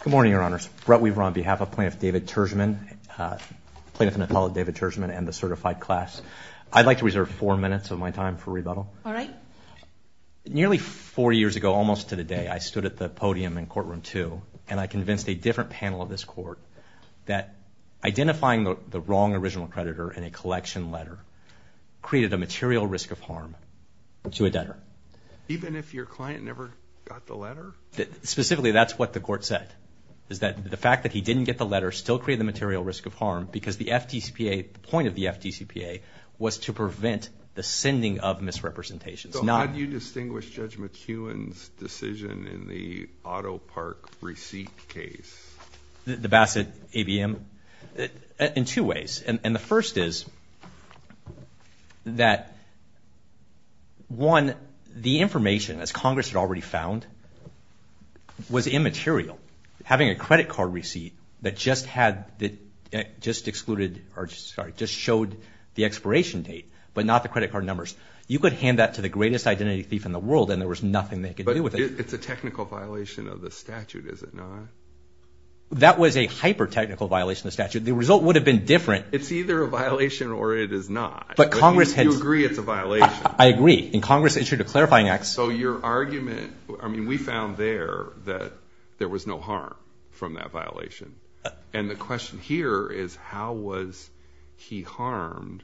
Good morning, Your Honors. Brett Weaver on behalf of Plaintiff David Tourgeman, Plaintiff and Apollo David Tourgeman and the certified class. I'd like to reserve four minutes of my time for rebuttal. All right. Nearly four years ago, almost to the day, I stood at the podium in courtroom two and I convinced a different panel of this court that identifying the wrong original creditor in a collection letter created a material risk of harm to a debtor. Even if your client never got the letter? Specifically, that's what the court said, is that the fact that he didn't get the letter still created the material risk of harm because the FDCPA, the point of the FDCPA was to prevent the sending of misrepresentations. So how do you distinguish Judge McEwen's decision in the auto park receipt case? The Bassett ABM? In two ways. And the first is that, one, the information as Congress had already found was immaterial. Having a credit card receipt that just had, just excluded, or sorry, just showed the expiration date, but not the credit card numbers. You could hand that to the greatest identity thief in the world and there was nothing they could do with it. But it's a technical violation of the statute, is it not? That was a hyper-technical violation of the statute. The result would have been different. It's either a violation or it is not. But Congress had- You agree it's a violation? I agree. And Congress issued a clarifying act. So your argument, I mean, we found there that there was no harm from that violation. And the question here is how was he harmed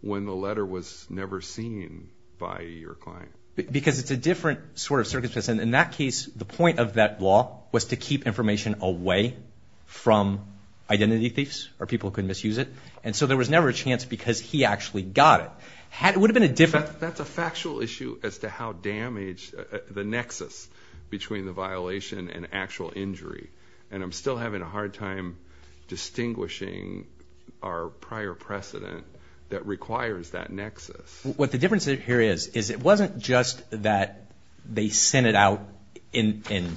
when the letter was never seen by your client? Because it's a different sort of circumstance. In that case, the point of that law was to keep information away from identity thieves, or people who could misuse it. And so there was never a chance because he actually got it. It would have been a different- That's a factual issue as to how damaged, the nexus between the violation and actual injury. And I'm still having a hard time distinguishing our prior precedent that requires that nexus. What the difference here is, is it wasn't just that they sent it out in the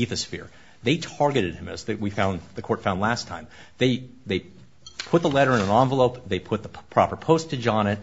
ether sphere. They targeted him as we found, the court found last time. They put the letter in an envelope. They put the proper postage on it.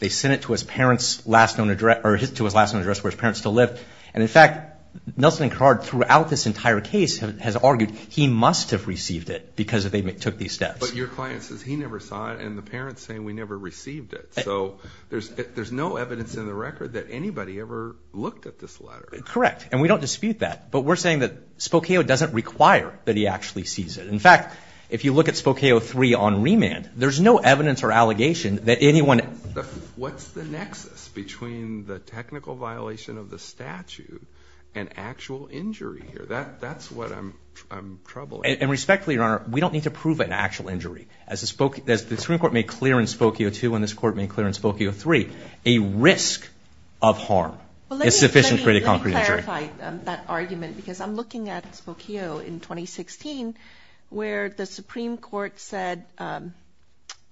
They sent it to his parents' last known address, to his last known address where his parents still live. And in fact, Nelson and Carrard throughout this entire case has argued he must have received it because they took these steps. But your client says he never saw it and the parents say we never received it. So there's no evidence in the record that anybody ever looked at this letter. Correct, and we don't dispute that. But we're saying that Spokeo doesn't require that he actually sees it. In fact, if you look at Spokeo 3 on remand, there's no evidence or allegation that anyone- What's the nexus between the technical violation of the statute and actual injury here? That's what I'm troubling. And respectfully, Your Honor, we don't need to prove an actual injury. As the Supreme Court made clear in Spokeo 2 and this Court made clear in Spokeo 3, a risk of harm is sufficient to create a concrete injury. Let me clarify that argument because I'm looking at Spokeo in 2016 where the Supreme Court said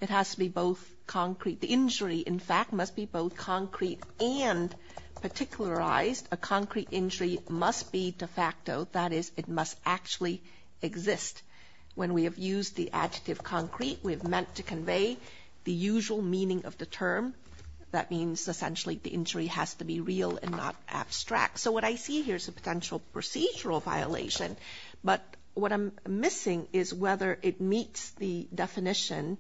it has to be both concrete, the injury, in fact, must be both concrete and particularized. A concrete injury must be de facto. That is, it must actually exist. When we have used the adjective concrete, we have meant to convey the usual meaning of the term. That means essentially the injury has to be real and not abstract. So what I see here is a potential procedural violation. But what I'm missing is whether it meets the definition,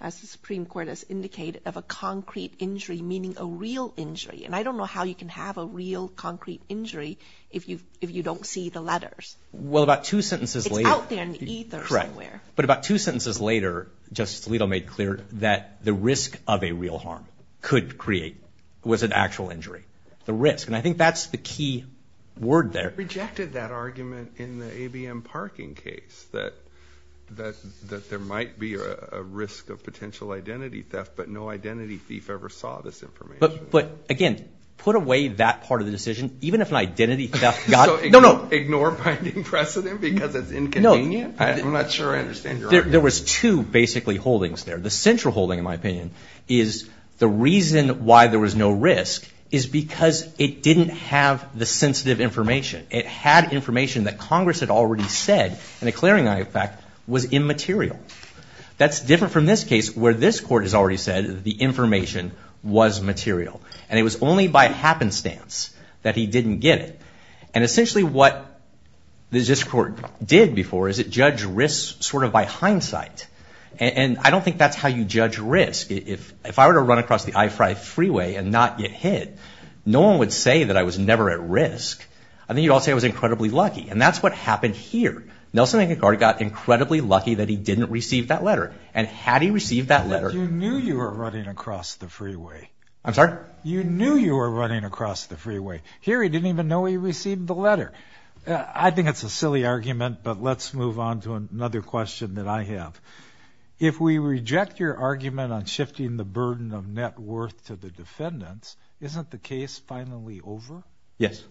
as the Supreme Court has indicated, of a concrete injury, meaning a real injury. And I don't know how you can have a real concrete injury if you don't see the letters. Well, about two sentences later. It's out there in the ether somewhere. But about two sentences later, Justice Alito made clear that the risk of a real harm could create, was an actual injury. The risk. And I think that's the key word there. Rejected that argument in the ABM parking case that there might be a risk of potential identity theft, but no identity thief ever saw this information. But again, put away that part of the decision. Even if an identity theft got, no, no. Ignore binding precedent because it's inconvenient? I'm not sure I understand your argument. There was two basically holdings there. The central holding, in my opinion, is the reason why there was no risk is because it didn't have the sensitive information. It had information that Congress had already said and a clearing eye effect was immaterial. That's different from this case where this court has already said the information was material. And it was only by happenstance that he didn't get it. And essentially what this court did before is it judged risks sort of by hindsight. And I don't think that's how you judge risk. If I were to run across the I-5 freeway and not get hit, no one would say that I was never at risk. I think you'd all say I was incredibly lucky. And that's what happened here. Nelson Aguilar got incredibly lucky that he didn't receive that letter. And had he received that letter- You knew you were running across the freeway. I'm sorry? You knew you were running across the freeway. Here he didn't even know he received the letter. I think it's a silly argument, but let's move on to another question that I have. If we reject your argument on shifting the burden of net worth to the defendants, isn't the case finally over? Yes.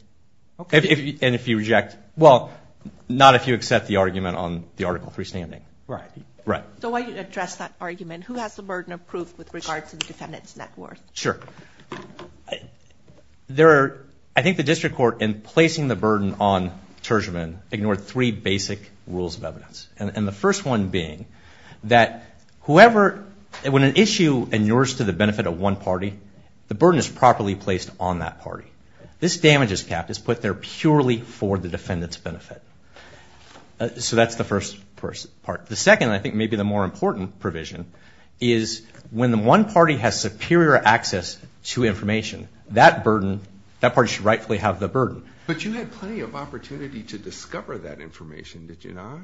And if you reject? Well, not if you accept the argument on the Article III standing. Right. So why do you address that argument? Who has the burden of proof with regards to the defendant's net worth? Sure. I think the district court, in placing the burden on Tershman, ignored three basic rules of evidence. And the first one being that whoever, when an issue in yours to the benefit of one party, the burden is properly placed on that party. This damages cap is put there purely for the defendant's benefit. So that's the first part. The second, and I think maybe the more important provision, is when the one party has superior access to information, that burden, that party should rightfully have the burden. But you had plenty of opportunity to discover that information, did you not?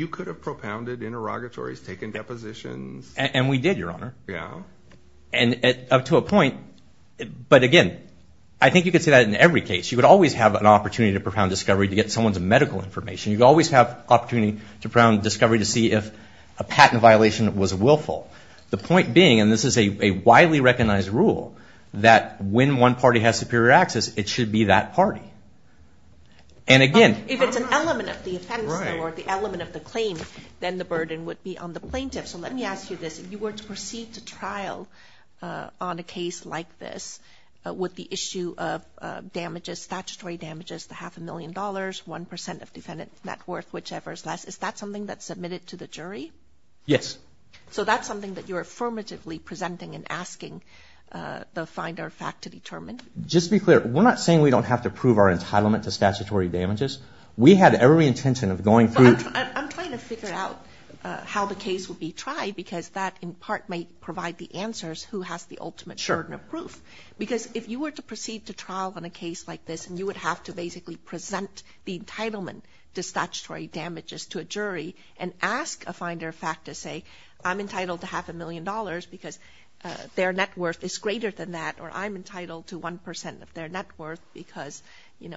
You could have propounded interrogatories, taken depositions. And we did, Your Honor. Yeah. And up to a point, but again, I think you could say that in every case. You would always have an opportunity to propound discovery to get someone's medical information. You'd always have opportunity to propound discovery to see if a patent violation was willful. The point being, and this is a widely recognized rule, that when one party has superior access, it should be that party. And again- If it's an element of the offense though, or the element of the claim, then the burden would be on the plaintiff. So let me ask you this. If you were to proceed to trial on a case like this, with the issue of damages, statutory damages, the half a million dollars, 1% of defendant net worth, whichever is less, is that something that's submitted to the jury? Yes. So that's something that you're affirmatively presenting and asking the finder of fact to determine? Just to be clear, we're not saying we don't have to prove our entitlement to statutory damages. We had every intention of going through- I'm trying to figure out how the case would be tried, because that in part may provide the answers who has the ultimate burden of proof. Because if you were to proceed to trial on a case like this, and you would have to basically present the entitlement to statutory damages to a jury, and ask a finder of fact to say, I'm entitled to half a million dollars because their net worth is greater than that, or I'm entitled to 1% of their net worth, because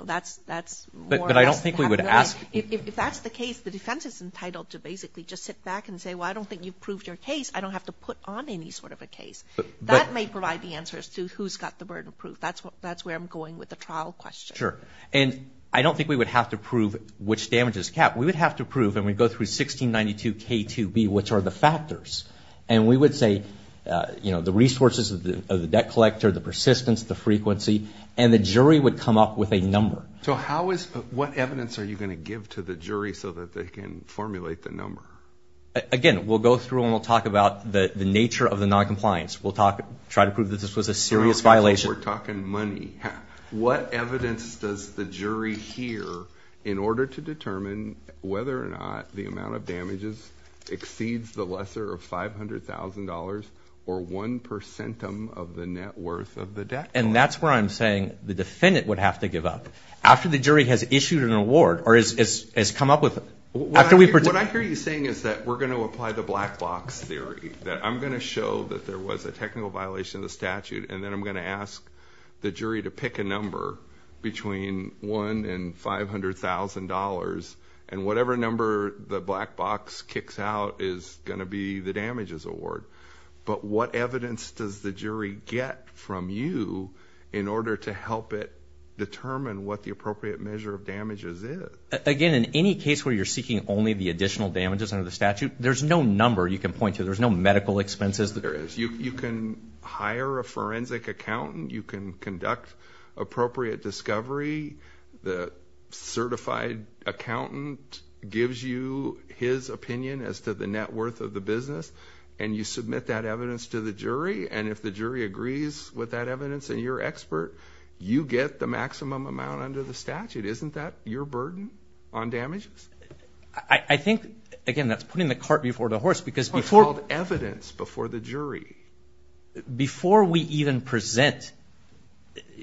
that's more- But I don't think we would ask- If that's the case, the defense is entitled to basically just sit back and say, well, I don't think you've proved your case. I don't have to put on any sort of a case. That may provide the answers to who's got the burden of proof. That's where I'm going with the trial question. Sure. And I don't think we would have to prove which damages cap. We would have to prove, and we'd go through 1692 K2B, which are the factors. And we would say, you know, the resources of the debt collector, the persistence, the frequency, and the jury would come up with a number. So how is- What evidence are you going to give to the jury so that they can formulate the number? Again, we'll go through and we'll talk about the nature of the noncompliance. We'll try to prove that this was a serious violation. We're talking money. What evidence does the jury hear in order to determine whether or not the amount of damages exceeds the lesser of $500,000 or 1% of the net worth of the debt collector? And that's where I'm saying the defendant would have to give up. After the jury has issued an award, or has come up with- What I hear you saying is that we're going to apply the black box theory, that I'm going to show that there was a technical violation of the statute, and then I'm going to ask the jury to pick a number between one and $500,000, and whatever number the black box kicks out is going to be the damages award. But what evidence does the jury get from you in order to help it determine what the appropriate measure of damages is? Again, in any case where you're seeking only the additional damages under the statute, there's no number you can point to. There's no medical expenses. There is. You can hire a forensic accountant. You can conduct appropriate discovery. The certified accountant gives you his opinion as to the net worth of the business, and you submit that evidence to the jury, and if the jury agrees with that evidence, and you're an expert, you get the maximum amount under the statute. Isn't that your burden on damages? I think, again, that's putting the cart before the horse, because before- It's called evidence before the jury. Before we even present,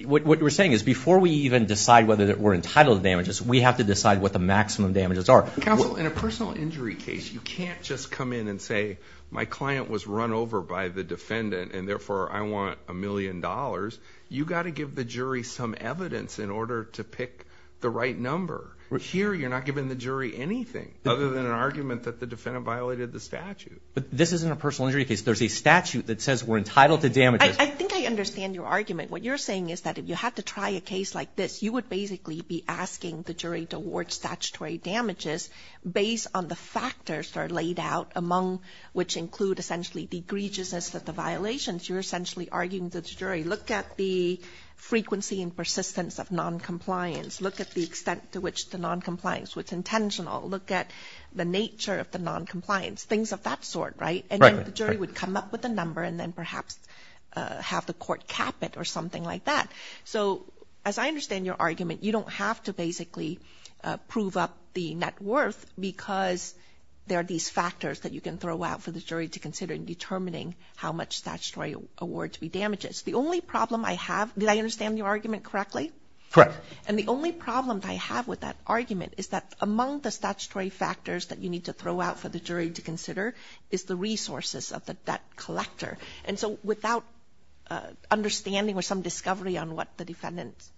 what we're saying is before we even decide whether we're entitled to damages, we have to decide what the maximum damages are. Counsel, in a personal injury case, you can't just come in and say, my client was run over by the defendant, and therefore I want a million dollars. You got to give the jury some evidence in order to pick the right number. Here, you're not giving the jury anything other than an argument that the defendant violated the statute. But this isn't a personal injury case. There's a statute that says we're entitled to damages. I think I understand your argument. What you're saying is that if you had to try a case like this, you would basically be asking the jury to award statutory damages based on the factors that are laid out, among which include, essentially, the egregiousness of the violations. You're essentially arguing to the jury, look at the frequency and persistence of noncompliance, look at the extent to which the noncompliance was intentional, look at the nature of the noncompliance, things of that sort, right? And then the jury would come up with a number, and then perhaps have the court cap it or something like that. So, as I understand your argument, you don't have to basically prove up the net worth because there are these factors that you can throw out for the jury to consider in determining how much statutory award to be damages. The only problem I have, did I understand your argument correctly? Correct. And the only problem I have with that argument is that among the statutory factors that you need to throw out for the jury to consider is the resources of the debt collector. And so, without understanding or some discovery on what the defendant's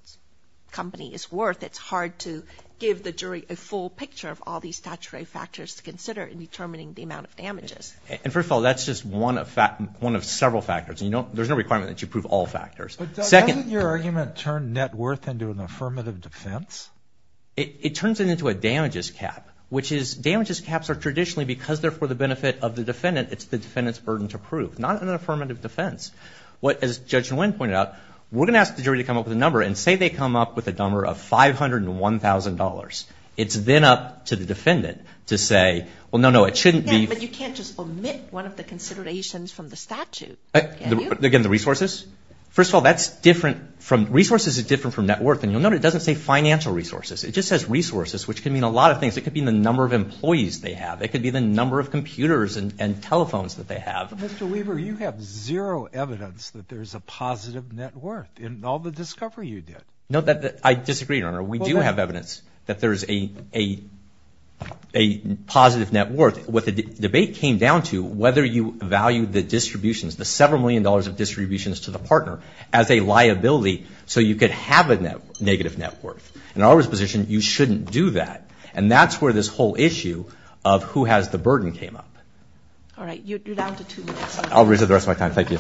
company is worth, it's hard to give the jury a full picture of all these statutory factors to consider in determining the amount of damages. And first of all, that's just one of several factors. There's no requirement that you prove all factors. Second- But doesn't your argument turn net worth into an affirmative defense? It turns it into a damages cap, which is damages caps are traditionally, because they're for the benefit of the defendant, it's the defendant's burden to prove, not an affirmative defense. What, as Judge Nguyen pointed out, we're gonna ask the jury to come up with a number, and say they come up with a number of $501,000. It's then up to the defendant to say, well, no, no, it shouldn't be- Yeah, but you can't just omit one of the considerations from the statute. Again, the resources? First of all, that's different from, resources is different from net worth, and you'll note it doesn't say financial resources. It just says resources, which can mean a lot of things. It could mean the number of employees they have. It could be the number of computers and telephones that they have. Mr. Weaver, you have zero evidence that there's a positive net worth in all the discovery you did. No, I disagree, Your Honor. We do have evidence that there's a positive net worth. What the debate came down to, whether you value the distributions, the several million dollars of distributions to the partner as a liability, so you could have a negative net worth. In our position, you shouldn't do that, and that's where this whole issue of who has the burden came up. All right, you're down to two minutes. I'll reserve the rest of my time. Thank you.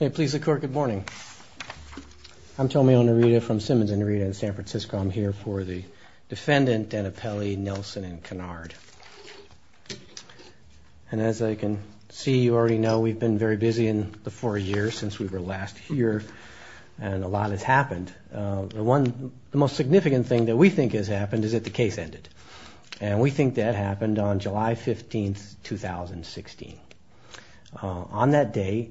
May it please the Court, good morning. I'm Tommy Onorita from Simmons Onorita in San Francisco. I'm here for the defendant, Danapelli, Nelson, and Kennard. And as I can see, you already know, we've been very busy in the four years since we were last here, and a lot has happened. The most significant thing that we think has happened is that the case ended, and we think that happened on July 15th, 2016. On that day,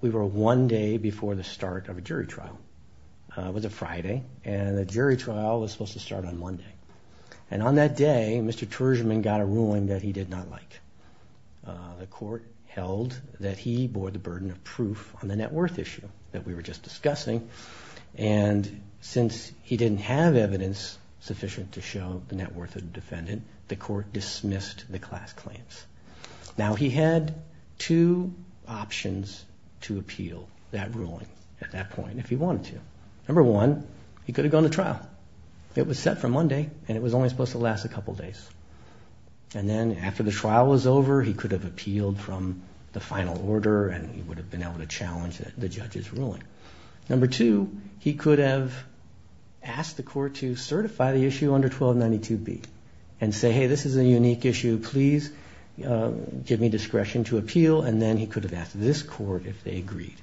we were one day before the start of a jury trial. It was a Friday, and the jury trial was supposed to start on Monday. And on that day, Mr. Tershman got a ruling that he did not like. The Court held that he bore the burden of proof on the net worth issue that we were just discussing, and since he didn't have evidence sufficient to show the net worth of the defendant, Now, he had two options to appeal that ruling at that point if he wanted to. Number one, he could have gone to trial. It was set for Monday, and it was only supposed to last a couple days. And then after the trial was over, he could have appealed from the final order, and he would have been able to challenge the judge's ruling. Number two, he could have asked the Court to certify the issue under 1292B, and say, hey, this is a unique issue. Please give me discretion to appeal, and then he could have asked this Court if they agreed.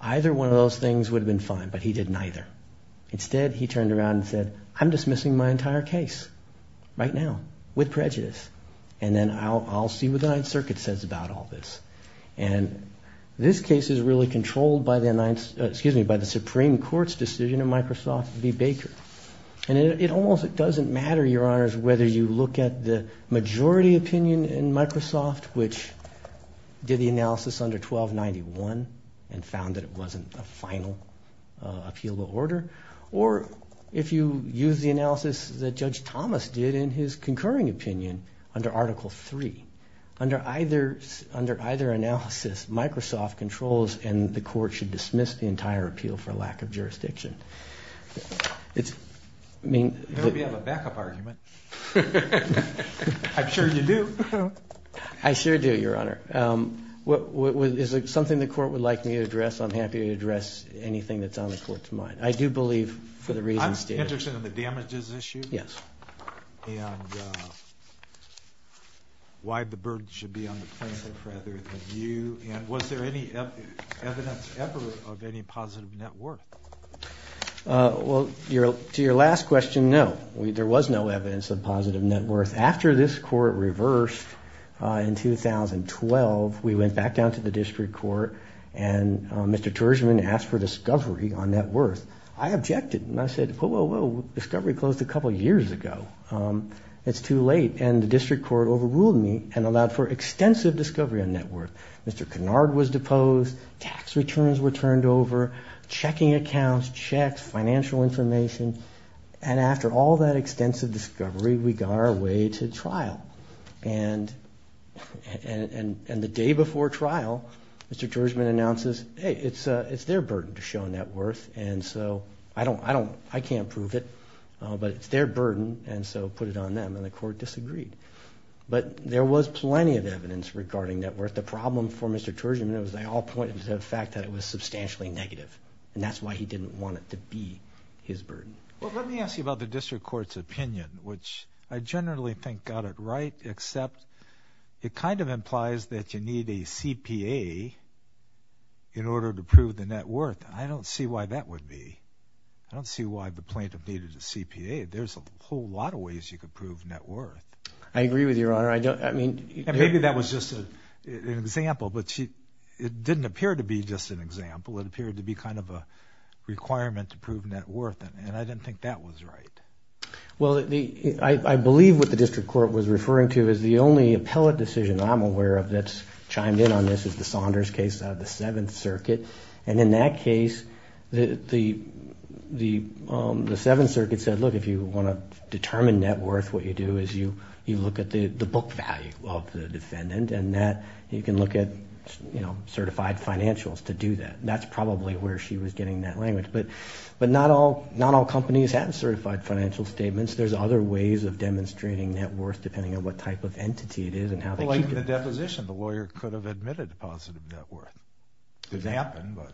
Either one of those things would have been fine, but he did neither. Instead, he turned around and said, I'm dismissing my entire case right now with prejudice, and then I'll see what the Ninth Circuit says about all this. And this case is really controlled by the Supreme Court's decision in Microsoft v. Baker. And it almost doesn't matter, Your Honors, whether you look at the majority opinion in Microsoft, which did the analysis under 1291, and found that it wasn't a final appealable order, or if you use the analysis that Judge Thomas did in his concurring opinion under Article III. Under either analysis, Microsoft controls, and the Court should dismiss the entire appeal for lack of jurisdiction. It's, I mean. You know we have a backup argument. I'm sure you do. I sure do, Your Honor. Is it something the Court would like me to address? I'm happy to address anything that's on the Court's mind. I do believe, for the reasons stated. I'm interested in the damages issue. Yes. And why the burden should be on the plaintiff rather than you. And was there any evidence ever of any positive net worth? Well, to your last question, no. There was no evidence of positive net worth. After this Court reversed in 2012, we went back down to the District Court, and Mr. Tershman asked for discovery on net worth. I objected, and I said, whoa, whoa, whoa. Discovery closed a couple years ago. It's too late, and the District Court overruled me and allowed for extensive discovery on net worth. Mr. Kennard was deposed. Tax returns were turned over. Checking accounts, checks, financial information. And after all that extensive discovery, we got our way to trial. And the day before trial, Mr. Tershman announces, hey, it's their burden to show net worth, and so I can't prove it, but it's their burden, and so put it on them, and the Court disagreed. But there was plenty of evidence regarding net worth. The problem for Mr. Tershman was they all pointed to the fact that it was substantially negative, and that's why he didn't want it to be his burden. Well, let me ask you about the District Court's opinion, which I generally think got it right, except it kind of implies that you need a CPA in order to prove the net worth. I don't see why that would be. I don't see why the plaintiff needed a CPA. There's a whole lot of ways you could prove net worth. I agree with you, Your Honor. I don't, I mean. And maybe that was just an example, but it didn't appear to be just an example. It appeared to be kind of a requirement to prove net worth, and I didn't think that was right. Well, I believe what the District Court was referring to is the only appellate decision I'm aware of that's chimed in on this is the Saunders case out of the Seventh Circuit. And in that case, the Seventh Circuit said, look, if you want to determine net worth, what you do is you look at the book value of the defendant, and that you can look at certified financials to do that. That's probably where she was getting that language. But not all companies have certified financial statements. There's other ways of demonstrating net worth depending on what type of entity it is and how they keep it. Like the deposition. The lawyer could have admitted positive net worth. It didn't happen, but.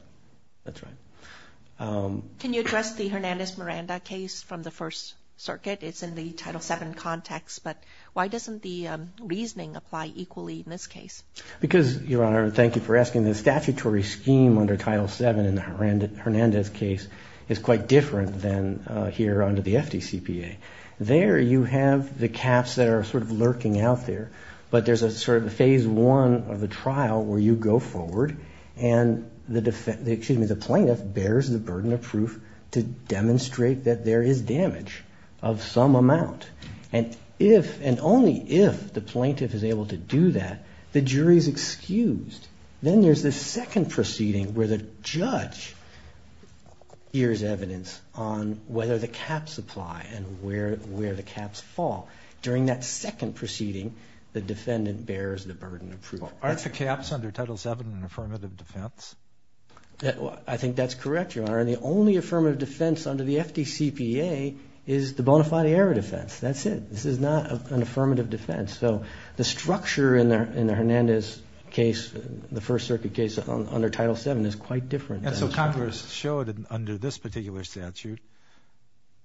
That's right. Can you address the Hernandez-Miranda case from the First Circuit? It's in the Title VII context, but why doesn't the reasoning apply equally in this case? Because, Your Honor, thank you for asking. The statutory scheme under Title VII in the Hernandez case is quite different than here under the FDCPA. There you have the caps that are sort of lurking out there, but there's a sort of a phase one of the trial where you go forward and the plaintiff bears the burden of proof to demonstrate that there is damage of some amount. And if, and only if, the plaintiff is able to do that, the jury's excused. Then there's this second proceeding where the judge hears evidence on whether the caps apply and where the caps fall. During that second proceeding, the defendant bears the burden of proof. Aren't the caps under Title VII an affirmative defense? I think that's correct, Your Honor. And the only affirmative defense under the FDCPA is the bona fide error defense. That's it. This is not an affirmative defense. So the structure in the Hernandez case, the First Circuit case under Title VII is quite different. And so Congress showed under this particular statute,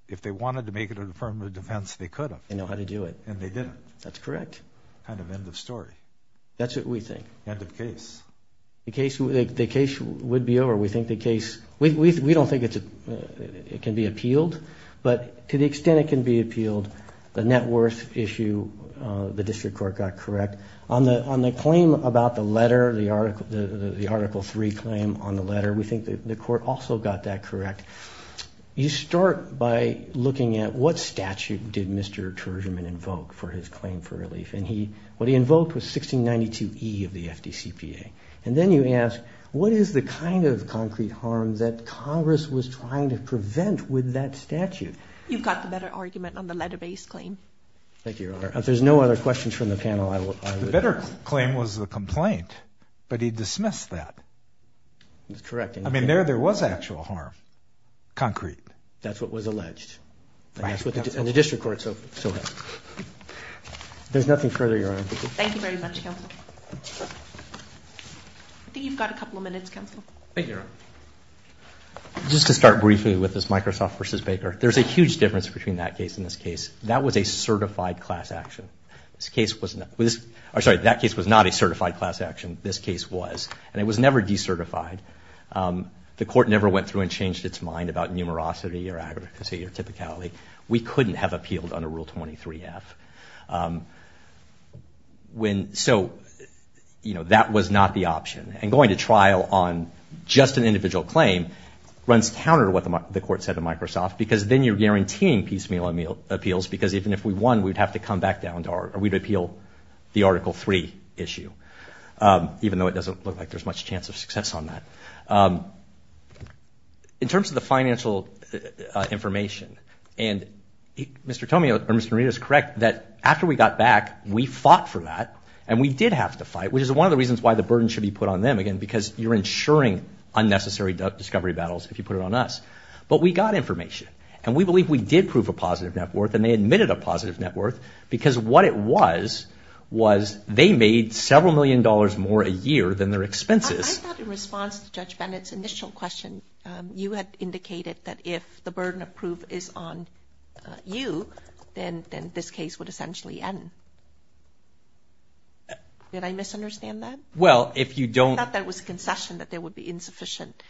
if they wanted to make it an affirmative defense, they could have. They know how to do it. And they didn't. That's correct. Kind of end of story. That's what we think. End of case. The case would be over. We think the case, we don't think it can be appealed, but to the extent it can be appealed, the net worth issue, the district court got correct. On the claim about the letter, the Article III claim on the letter, we think the court also got that correct. You start by looking at what statute did Mr. Terjeman invoke for his claim for relief. And what he invoked was 1692E of the FDCPA. And then you ask, what is the kind of concrete harm that Congress was trying to prevent with that statute? You've got the better argument on the letter-based claim. Thank you, Your Honor. If there's no other questions from the panel, I will. The better claim was the complaint, but he dismissed that. That's correct. I mean, there was actual harm, concrete. That's what was alleged. And the district court so helped. There's nothing further, Your Honor. Thank you very much, Counsel. I think you've got a couple of minutes, Counsel. Thank you, Your Honor. Just to start briefly with this Microsoft versus Baker. There's a huge difference between that case and this case. That was a certified class action. This case was not. I'm sorry, that case was not a certified class action. This case was. And it was never decertified. The court never went through and changed its mind about numerosity or accuracy or typicality. We couldn't have appealed under Rule 23F. So that was not the option. And going to trial on just an individual claim runs counter to what the court said to Microsoft, because then you're guaranteeing piecemeal appeals, because even if we won, we'd have to come back down to our, or we'd appeal the Article III issue, even though it doesn't look like there's much chance of success on that. In terms of the financial information, and Mr. Tomia or Mr. Narita is correct that after we got back, we fought for that. And we did have to fight, which is one of the reasons why the burden should be put on them again, because you're ensuring unnecessary discovery battles if you put it on us. But we got information, and we believe we did prove a positive net worth, and they admitted a positive net worth, because what it was, was they made several million dollars more a year than their expenses. I thought in response to Judge Bennett's initial question, you had indicated that if the burden of proof is on you, then this case would essentially end. Did I misunderstand that? Well, if you don't- I thought that was concession that there would be insufficient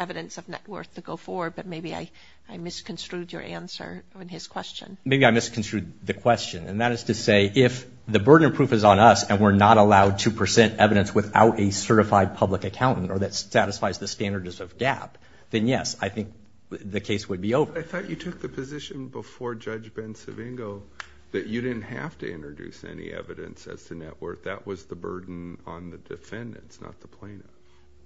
evidence of net worth to go forward, but maybe I misconstrued your answer in his question. Maybe I misconstrued the question. And that is to say, if the burden of proof is on us, and we're not allowed to present evidence without a certified public accountant, or that satisfies the standards of GAAP, then yes, I think the case would be over. I thought you took the position before Judge Ben Savingo, that you didn't have to introduce any evidence as to net worth. That was the burden on the defendants, not the plaintiff.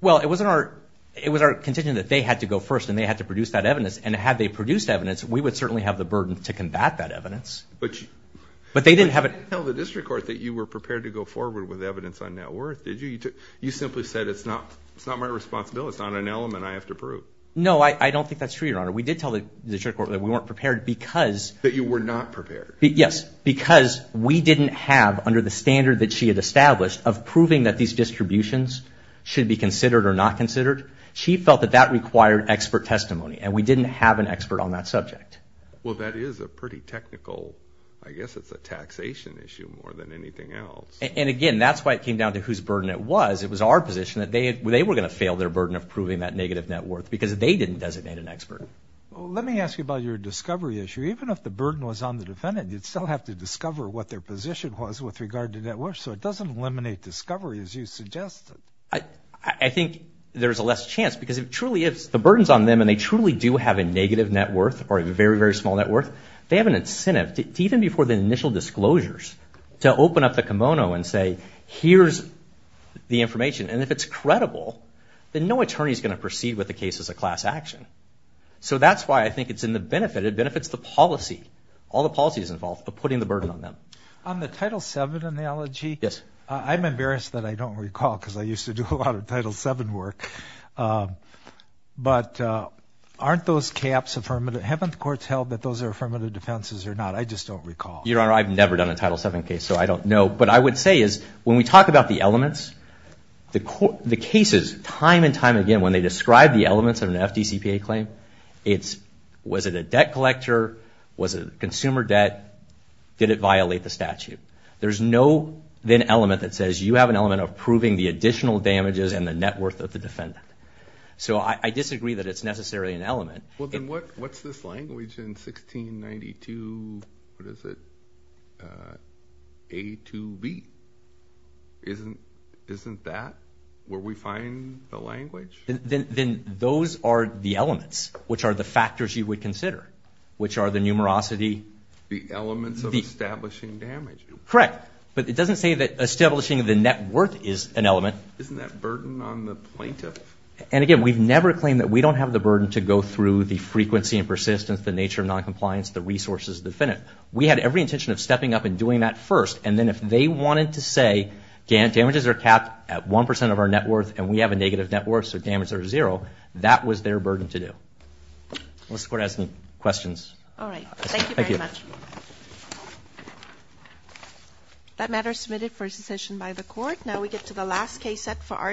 Well, it wasn't our, it was our contention that they had to go first, and they had to produce that evidence. And had they produced evidence, we would certainly have the burden to combat that evidence. But they didn't have it- You didn't tell the district court that you were prepared to go forward with evidence on net worth, did you? You simply said, it's not my responsibility. It's not an element I have to prove. No, I don't think that's true, Your Honor. We did tell the district court that we weren't prepared because- That you were not prepared. Yes, because we didn't have, under the standard that she had established, of proving that these distributions should be considered or not considered. She felt that that required expert testimony, and we didn't have an expert on that subject. Well, that is a pretty technical, I guess it's a taxation issue more than anything else. And again, that's why it came down to whose burden it was. It was our position that they were going to fail their burden of proving that negative net worth because they didn't designate an expert. Well, let me ask you about your discovery issue. Even if the burden was on the defendant, you'd still have to discover what their position was with regard to net worth. So it doesn't eliminate discovery, as you suggested. I think there's a less chance because if truly, if the burden's on them and they truly do have a negative net worth or a very, very small net worth, they have an incentive, even before the initial disclosures, to open up the kimono and say, here's the information. And if it's credible, then no attorney's going to proceed with the case as a class action. So that's why I think it's in the benefit. It benefits the policy, all the policies involved, of putting the burden on them. On the Title VII analogy, I'm embarrassed that I don't recall because I used to do a lot of Title VII work. But aren't those caps affirmative? Haven't the courts held that those are affirmative defenses or not? I just don't recall. Your Honor, I've never done a Title VII case, so I don't know. But I would say is, when we talk about the elements, the cases, time and time again, when they describe the elements of an FDCPA claim, it's, was it a debt collector? Was it a consumer debt? Did it violate the statute? There's no then element that says, you have an element of proving the additional damages and the net worth of the defendant. So I disagree that it's necessarily an element. Well, then what's this language in 1692? What is it? A to B. Isn't that where we find the language? Then those are the elements, which are the factors you would consider, which are the numerosity. The elements of establishing damage. Correct. But it doesn't say that establishing the net worth is an element. Isn't that burden on the plaintiff? And again, we've never claimed that we don't have the burden to go through the frequency and persistence, the nature of noncompliance, the resources of the defendant. We had every intention of stepping up and doing that first. And then if they wanted to say, Dan, damages are capped at 1% of our net worth, and we have a negative net worth, so damages are zero, that was their burden to do. Unless the court has any questions. All right. Thank you very much. That matter is submitted for a secession by the court. Now we get to the last case set for our.